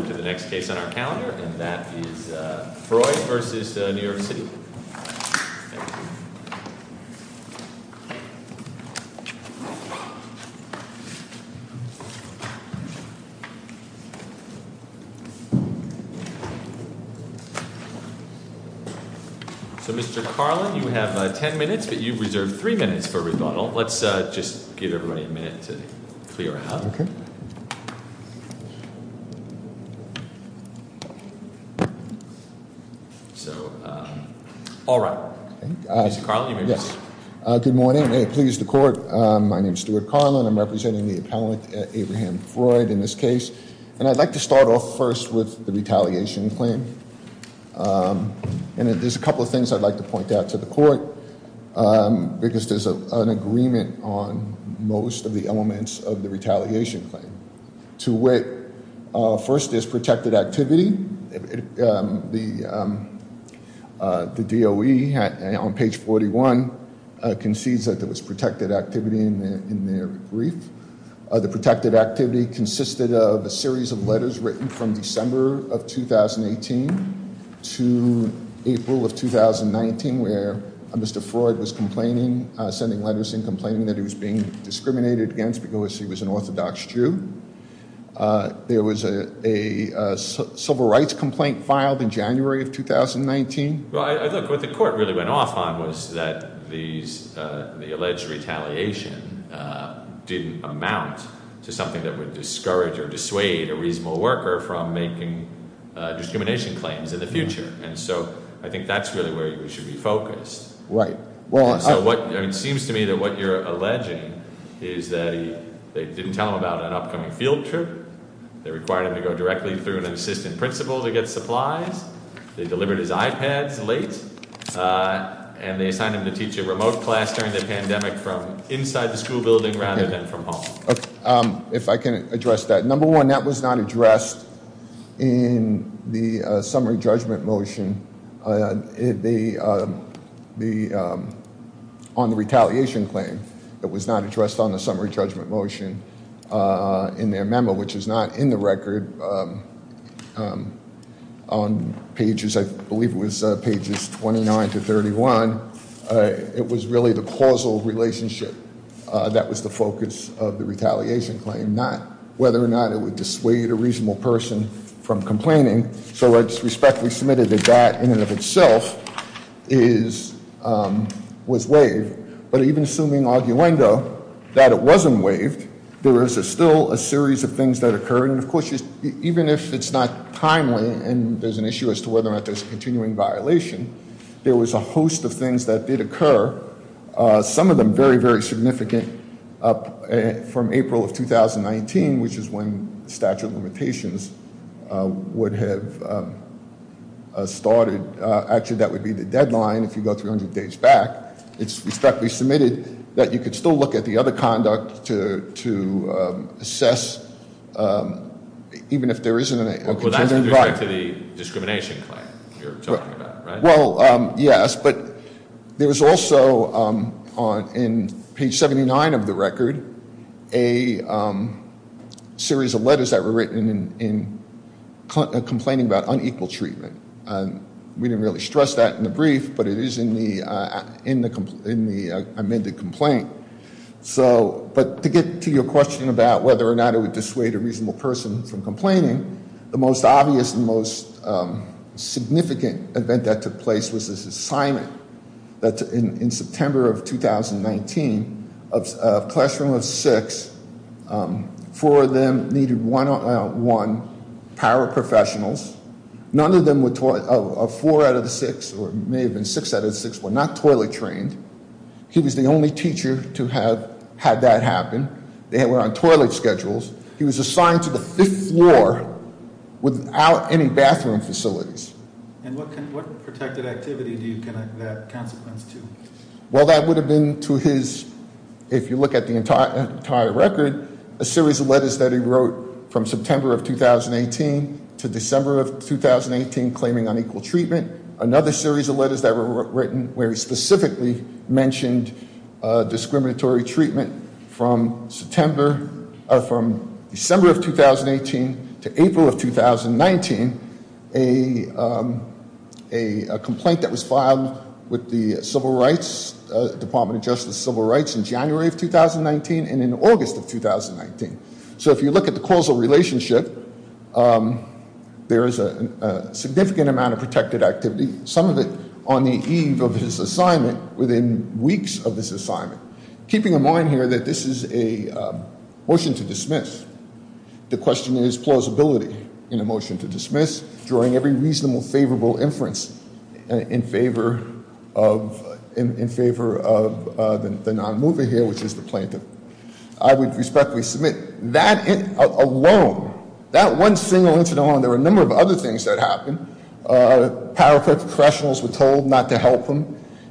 We now move to the next case on our calendar, and that is Freud v. New York City. So Mr. Carlin, you have ten minutes, but you've reserved three minutes for rebuttal. Let's just give everybody a minute to clear out. All right. Mr. Carlin, you may begin. Good morning. May it please the court, my name is Stuart Carlin. I'm representing the appellate Abraham Freud in this case. And I'd like to start off first with the retaliation claim. And there's a couple of things I'd like to point out to the court, because there's an agreement on most of the elements of the retaliation claim. First, there's protected activity. The DOE on page 41 concedes that there was protected activity in their brief. The protected activity consisted of a series of letters written from December of 2018 to April of 2019, where Mr. Freud was complaining, sending letters and complaining that he was being discriminated against because he was an Orthodox Jew. There was a civil rights complaint filed in January of 2019. Well, look, what the court really went off on was that the alleged retaliation didn't amount to something that would discourage or dissuade a reasonable worker from making discrimination claims in the future. And so I think that's really where you should be focused. Right. So it seems to me that what you're alleging is that they didn't tell him about an upcoming field trip. They required him to go directly through an assistant principal to get supplies. They delivered his iPads late and they assigned him to teach a remote class during the pandemic from inside the school building rather than from home. If I can address that. Number one, that was not addressed in the summary judgment motion. On the retaliation claim, it was not addressed on the summary judgment motion in their memo, which is not in the record. On pages, I believe it was pages 29 to 31. It was really the causal relationship that was the focus of the retaliation claim, not whether or not it would dissuade a reasonable person from complaining. So I just respectfully submitted that that in and of itself is was waived. But even assuming arguendo that it wasn't waived, there is still a series of things that occur. And of course, even if it's not timely and there's an issue as to whether or not there's a continuing violation, there was a host of things that did occur. Some of them very, very significant from April of 2019, which is when statute of limitations would have started. Actually, that would be the deadline if you go 300 days back. It's respectfully submitted that you could still look at the other conduct to assess even if there isn't a- Well, that's due to the discrimination claim you're talking about, right? Well, yes. But there was also on page 79 of the record a series of letters that were written in complaining about unequal treatment. We didn't really stress that in the brief, but it is in the amended complaint. But to get to your question about whether or not it would dissuade a reasonable person from complaining, the most obvious and most significant event that took place was this assignment that in September of 2019, a classroom of six, four of them needed one-on-one paraprofessionals. None of them were- four out of the six, or it may have been six out of the six, were not toilet trained. He was the only teacher to have had that happen. They were on toilet schedules. He was assigned to the fifth floor without any bathroom facilities. And what protected activity do you connect that consequence to? Well, that would have been to his- if you look at the entire record, a series of letters that he wrote from September of 2018 to December of 2018 claiming unequal treatment. Another series of letters that were written where he specifically mentioned discriminatory treatment from September- from December of 2018 to April of 2019, a complaint that was filed with the Civil Rights- Department of Justice Civil Rights in January of 2019 and in August of 2019. So if you look at the causal relationship, there is a significant amount of protected activity, some of it on the eve of his assignment within weeks of this assignment, keeping in mind here that this is a motion to dismiss. The question is plausibility in a motion to dismiss during every reasonable favorable inference in favor of- in favor of the non-mover here, which is the plaintiff. I would respectfully submit that alone, that one single incident alone, there were a number of other things that happened. Power professionals were told not to help him.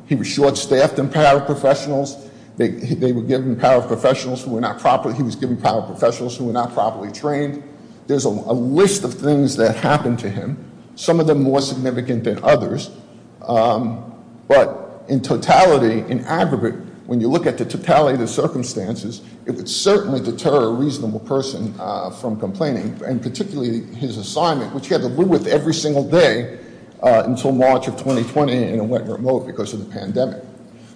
He was short-staffed in power professionals. They were given power professionals who were not properly- he was given power professionals who were not properly trained. There's a list of things that happened to him, some of them more significant than others. But in totality, in aggregate, when you look at the totality of the circumstances, it would certainly deter a reasonable person from complaining and particularly his assignment, which he had to live with every single day until March of 2020 and it went remote because of the pandemic.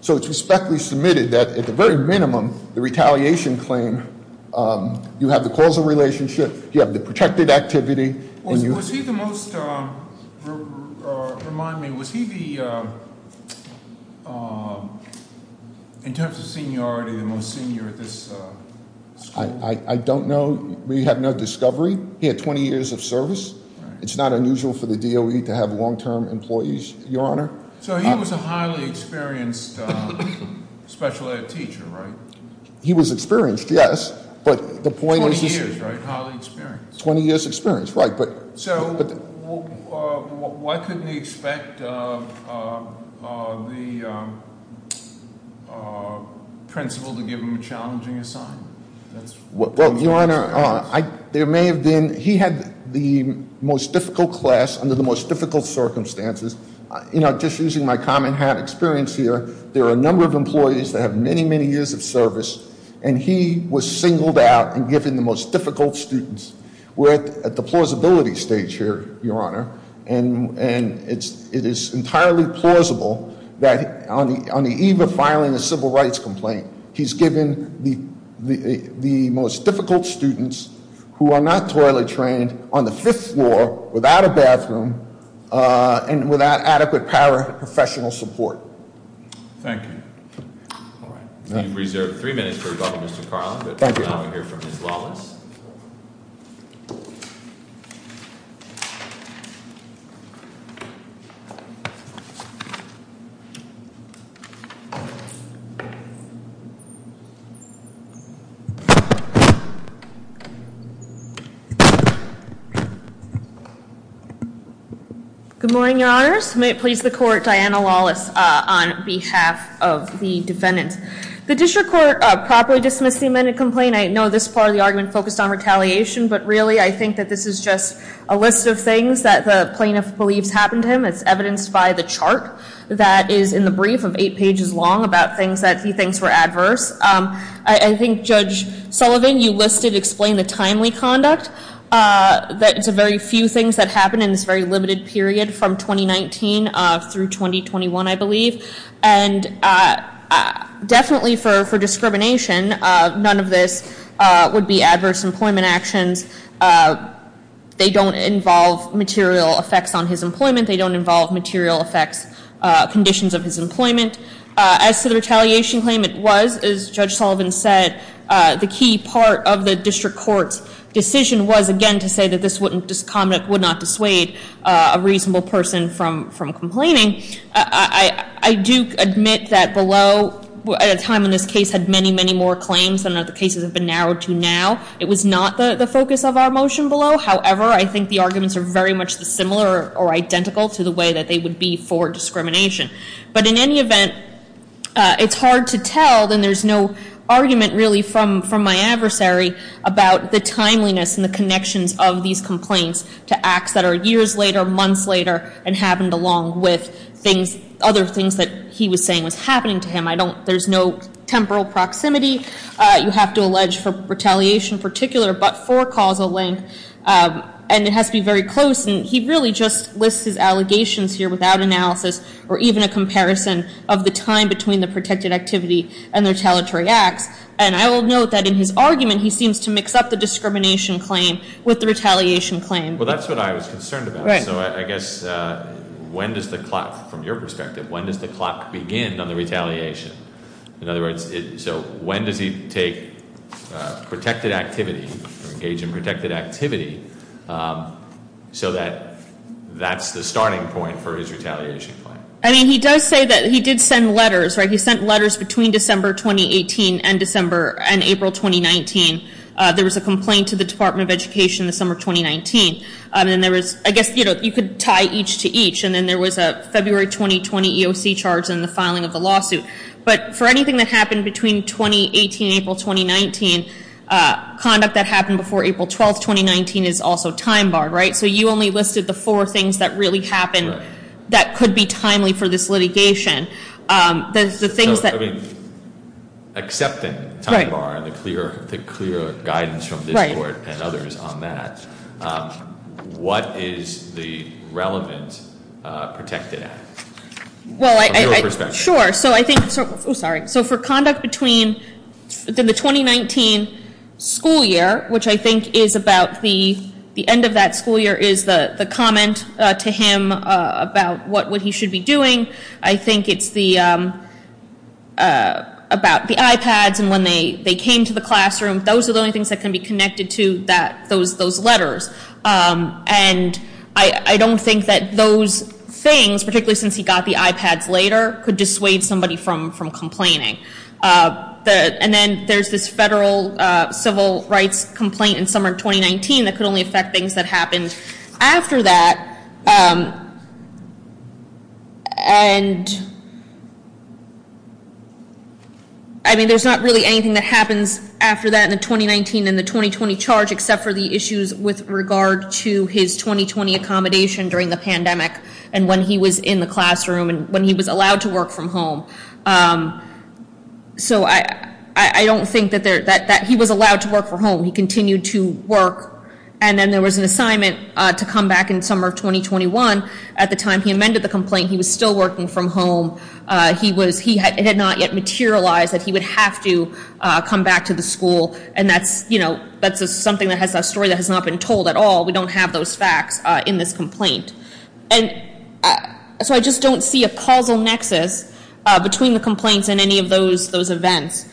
So it's respectfully submitted that at the very minimum, the retaliation claim, you have the causal relationship, you have the protected activity, and you- Was he the most, remind me, was he the, in terms of seniority, the most senior at this school? I don't know. We have no discovery. He had 20 years of service. It's not unusual for the DOE to have long-term employees, Your Honor. So he was a highly experienced special ed teacher, right? He was experienced, yes, but the point is- Very highly experienced. 20 years experience, right, but- So why couldn't he expect the principal to give him a challenging assignment? Well, Your Honor, there may have been, he had the most difficult class under the most difficult circumstances. Just using my common experience here, there are a number of employees that have many, many years of service, and he was singled out and given the most difficult students. We're at the plausibility stage here, Your Honor, and it is entirely plausible that on the eve of filing a civil rights complaint, he's given the most difficult students who are not thoroughly trained on the fifth floor, without a bathroom, and without adequate paraprofessional support. Thank you. We have reserved three minutes for Dr. Mr. Carlin, but now we'll hear from Ms. Lawless. Good morning, Your Honors. May it please the court, Diana Lawless on behalf of the defendants. The district court properly dismissed the amended complaint. I know this part of the argument focused on retaliation, but really I think that this is just a list of things that the plaintiff believes happened to him. It's evidenced by the chart that is in the brief of eight pages long about things that he thinks were adverse. I think, Judge Sullivan, you listed explain the timely conduct, that it's a very few things that happened in this very limited period from 2019 through 2021, I believe. And definitely for discrimination, none of this would be adverse employment actions. They don't involve material effects on his employment. They don't involve material effects, conditions of his employment. As to the retaliation claim, it was, as Judge Sullivan said, the key part of the district court's decision was, again, to say that this would not dissuade a reasonable person from complaining. I do admit that below, at a time when this case had many, many more claims than other cases have been narrowed to now, it was not the focus of our motion below. However, I think the arguments are very much similar or identical to the way that they would be for discrimination. But in any event, it's hard to tell, and there's no argument really from my adversary about the timeliness and the connections of these complaints to acts that are years later, months later, and happened along with things, other things that he was saying was happening to him. I don't, there's no temporal proximity, you have to allege, for retaliation in particular, but for causal link. And it has to be very close, and he really just lists his allegations here without analysis, or even a comparison of the time between the protected activity and the retaliatory acts. And I will note that in his argument, he seems to mix up the discrimination claim with the retaliation claim. Well, that's what I was concerned about. Right. So I guess, when does the clock, from your perspective, when does the clock begin on the retaliation? In other words, so when does he take protected activity, engage in protected activity, so that that's the starting point for his retaliation claim? I mean, he does say that he did send letters, right? He sent letters between December 2018 and April 2019. There was a complaint to the Department of Education in the summer of 2019. I guess you could tie each to each, and then there was a February 2020 EOC charge in the filing of the lawsuit. But for anything that happened between 2018 and April 2019, conduct that happened before April 12, 2019 is also time barred, right? So you only listed the four things that really happened that could be timely for this litigation. The things that- So, I mean, except in time bar and the clear guidance from this court and others on that, what is the relevant protected act? Well, I- From your perspective. Sure. So I think, oh, sorry. So for conduct between the 2019 school year, which I think is about the end of that school year, is the comment to him about what he should be doing. I think it's about the iPads and when they came to the classroom. Those are the only things that can be connected to those letters. And I don't think that those things, particularly since he got the iPads later, could dissuade somebody from complaining. And then there's this federal civil rights complaint in summer of 2019 that could only affect things that happened after that. And I mean, there's not really anything that happens after that in the 2019 and the 2020 charge, except for the issues with regard to his 2020 accommodation during the pandemic and when he was in the classroom and when he was allowed to work from home. So I don't think that he was allowed to work from home. He continued to work. And then there was an assignment to come back in summer of 2021. At the time he amended the complaint, he was still working from home. It had not yet materialized that he would have to come back to the school. And that's something that has a story that has not been told at all. We don't have those facts in this complaint. And so I just don't see a causal nexus between the complaints and any of those events.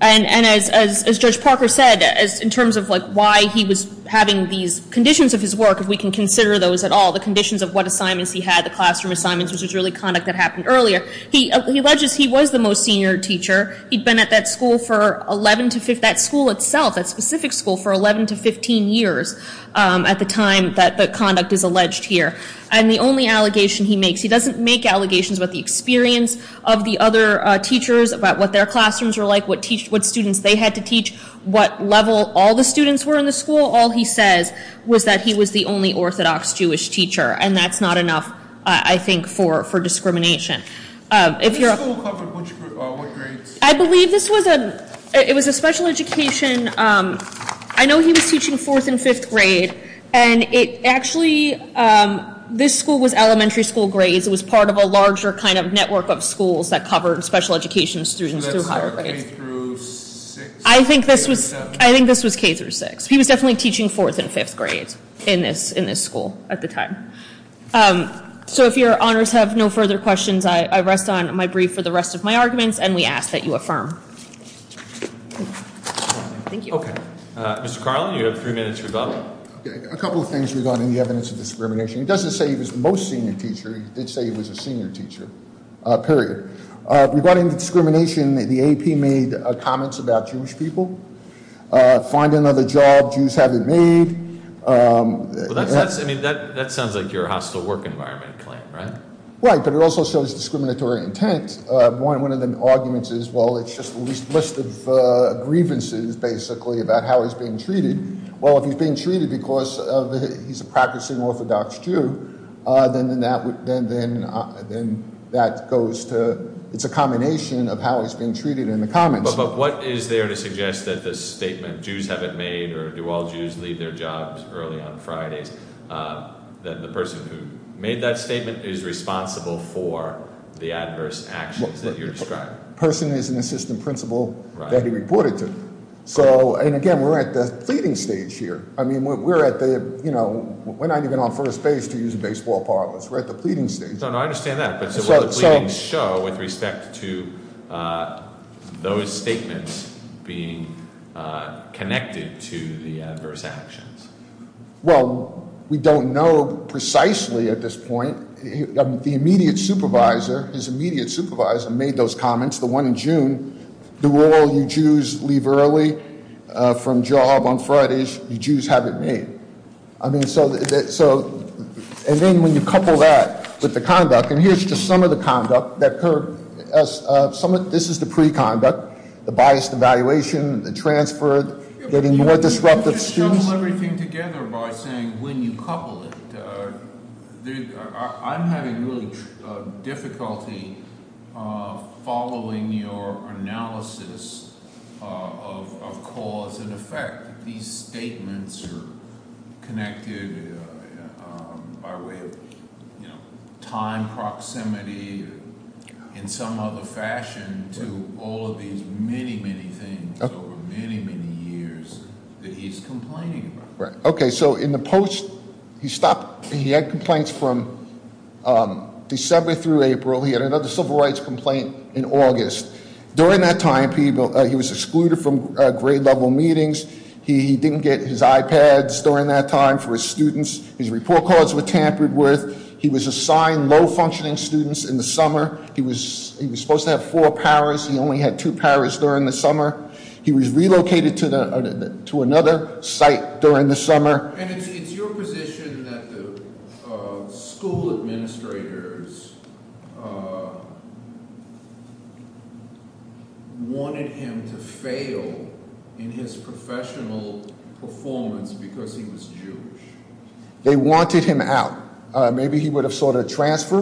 And as Judge Parker said, in terms of why he was having these conditions of his work, if we can consider those at all, the conditions of what assignments he had, the classroom assignments, which was really conduct that happened earlier, he alleges he was the most senior teacher. He'd been at that school for 11 to 15, that school itself, that specific school for 11 to 15 years at the time that the conduct is alleged here. And the only allegation he makes, he doesn't make allegations about the experience of the other teachers, about what their classrooms were like, what students they had to teach, what level all the students were in the school. All he says was that he was the only Orthodox Jewish teacher. And that's not enough, I think, for discrimination. This school covered what grades? I believe this was a special education. I know he was teaching fourth and fifth grade. And actually, this school was elementary school grades. It was part of a larger network of schools that covered special education students through higher grades. So that's K through 6? I think this was K through 6. He was definitely teaching fourth and fifth grade in this school at the time. So if your honors have no further questions, I rest on my brief for the rest of my arguments, and we ask that you affirm. Thank you. Okay. Mr. Carlin, you have three minutes to rebuttal. A couple of things regarding the evidence of discrimination. He doesn't say he was the most senior teacher. He did say he was a senior teacher, period. Regarding the discrimination, the AP made comments about Jewish people. Find another job Jews haven't made. That sounds like your hostile work environment claim, right? Right, but it also shows discriminatory intent. One of the arguments is, well, it's just a list of grievances, basically, about how he's being treated. Well, if he's being treated because he's a practicing Orthodox Jew, then that goes to – it's a combination of how he's being treated in the comments. But what is there to suggest that the statement, Jews haven't made, or do all Jews leave their jobs early on Fridays, that the person who made that statement is responsible for the adverse actions that you're describing? The person is an assistant principal that he reported to. So, and again, we're at the pleading stage here. I mean, we're at the – we're not even on first base to use baseball parlors. We're at the pleading stage. No, no, I understand that. But so what does the pleading show with respect to those statements being connected to the adverse actions? Well, we don't know precisely at this point. The immediate supervisor, his immediate supervisor made those comments, the one in June. Do all you Jews leave early from job on Fridays? You Jews haven't made. I mean, so – and then when you couple that with the conduct, and here's just some of the conduct that occurred. This is the preconduct, the biased evaluation, the transfer, getting more disruptive students. By saying when you couple it, I'm having really difficulty following your analysis of cause and effect. These statements are connected by way of time proximity in some other fashion to all of these many, many things over many, many years that he's complaining about. Right. Okay. So in the post, he stopped – he had complaints from December through April. He had another civil rights complaint in August. During that time, he was excluded from grade-level meetings. He didn't get his iPads during that time for his students. His report cards were tampered with. He was assigned low-functioning students in the summer. He was supposed to have four powers. He only had two powers during the summer. He was relocated to another site during the summer. And it's your position that the school administrators wanted him to fail in his professional performance because he was Jewish. They wanted him out. Maybe he would have sought a transfer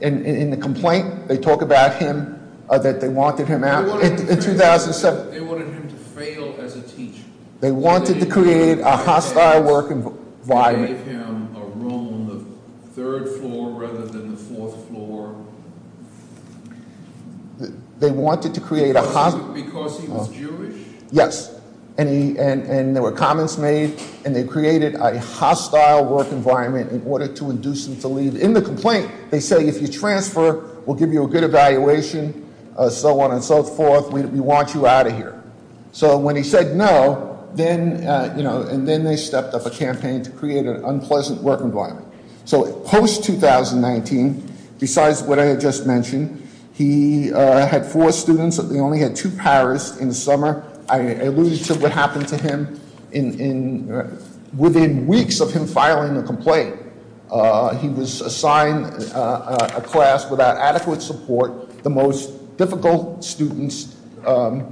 in the complaint. They talk about him, that they wanted him out in 2007. They wanted him to fail as a teacher. They wanted to create a hostile work environment. They gave him a room on the third floor rather than the fourth floor because he was Jewish? Yes. And there were comments made, and they created a hostile work environment in order to induce him to leave. In the complaint, they say, if you transfer, we'll give you a good evaluation, so on and so forth. We want you out of here. So when he said no, then they stepped up a campaign to create an unpleasant work environment. So post-2019, besides what I had just mentioned, he had four students. He only had two powers in the summer. I alluded to what happened to him within weeks of him filing a complaint. He was assigned a class without adequate support, the most difficult students, and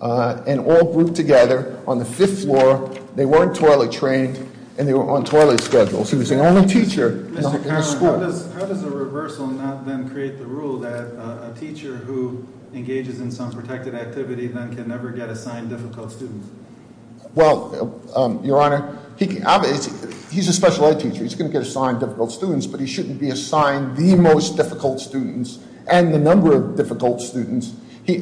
all grouped together on the fifth floor. They weren't toilet trained, and they were on toilet schedules. He was the only teacher in the school. Mr. Carlin, how does a reversal not then create the rule that a teacher who engages in some protected activity then can never get assigned difficult students? Well, Your Honor, he's a special ed teacher. He's going to get assigned difficult students, but he shouldn't be assigned the most difficult students and the number of difficult students.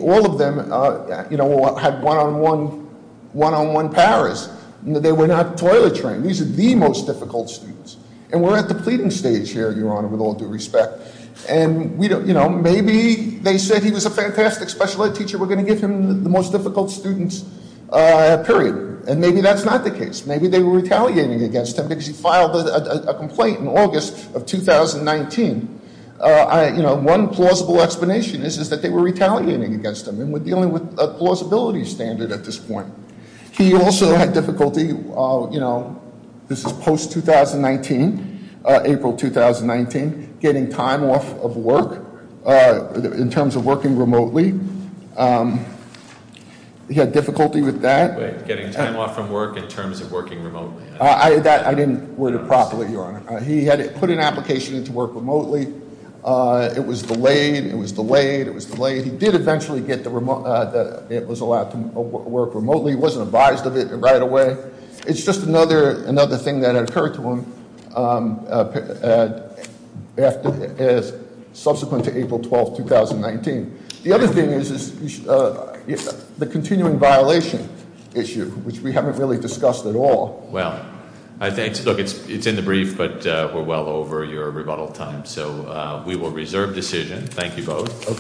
All of them had one-on-one powers. They were not toilet trained. These are the most difficult students. And we're at the pleading stage here, Your Honor, with all due respect. And maybe they said he was a fantastic special ed teacher. We're going to give him the most difficult students, period. And maybe that's not the case. Maybe they were retaliating against him because he filed a complaint in August of 2019. One plausible explanation is that they were retaliating against him, and we're dealing with a plausibility standard at this point. He also had difficulty, you know, this is post-2019, April 2019, getting time off of work in terms of working remotely. He had difficulty with that. Getting time off from work in terms of working remotely. I didn't word it properly, Your Honor. He had put an application in to work remotely. It was delayed. It was delayed. It was delayed. He did eventually get that it was allowed to work remotely. He wasn't advised of it right away. It's just another thing that occurred to him subsequent to April 12th, 2019. The other thing is the continuing violation issue, which we haven't really discussed at all. Well, I think, look, it's in the brief, but we're well over your rebuttal time. So we will reserve decision. Thank you both. Okay.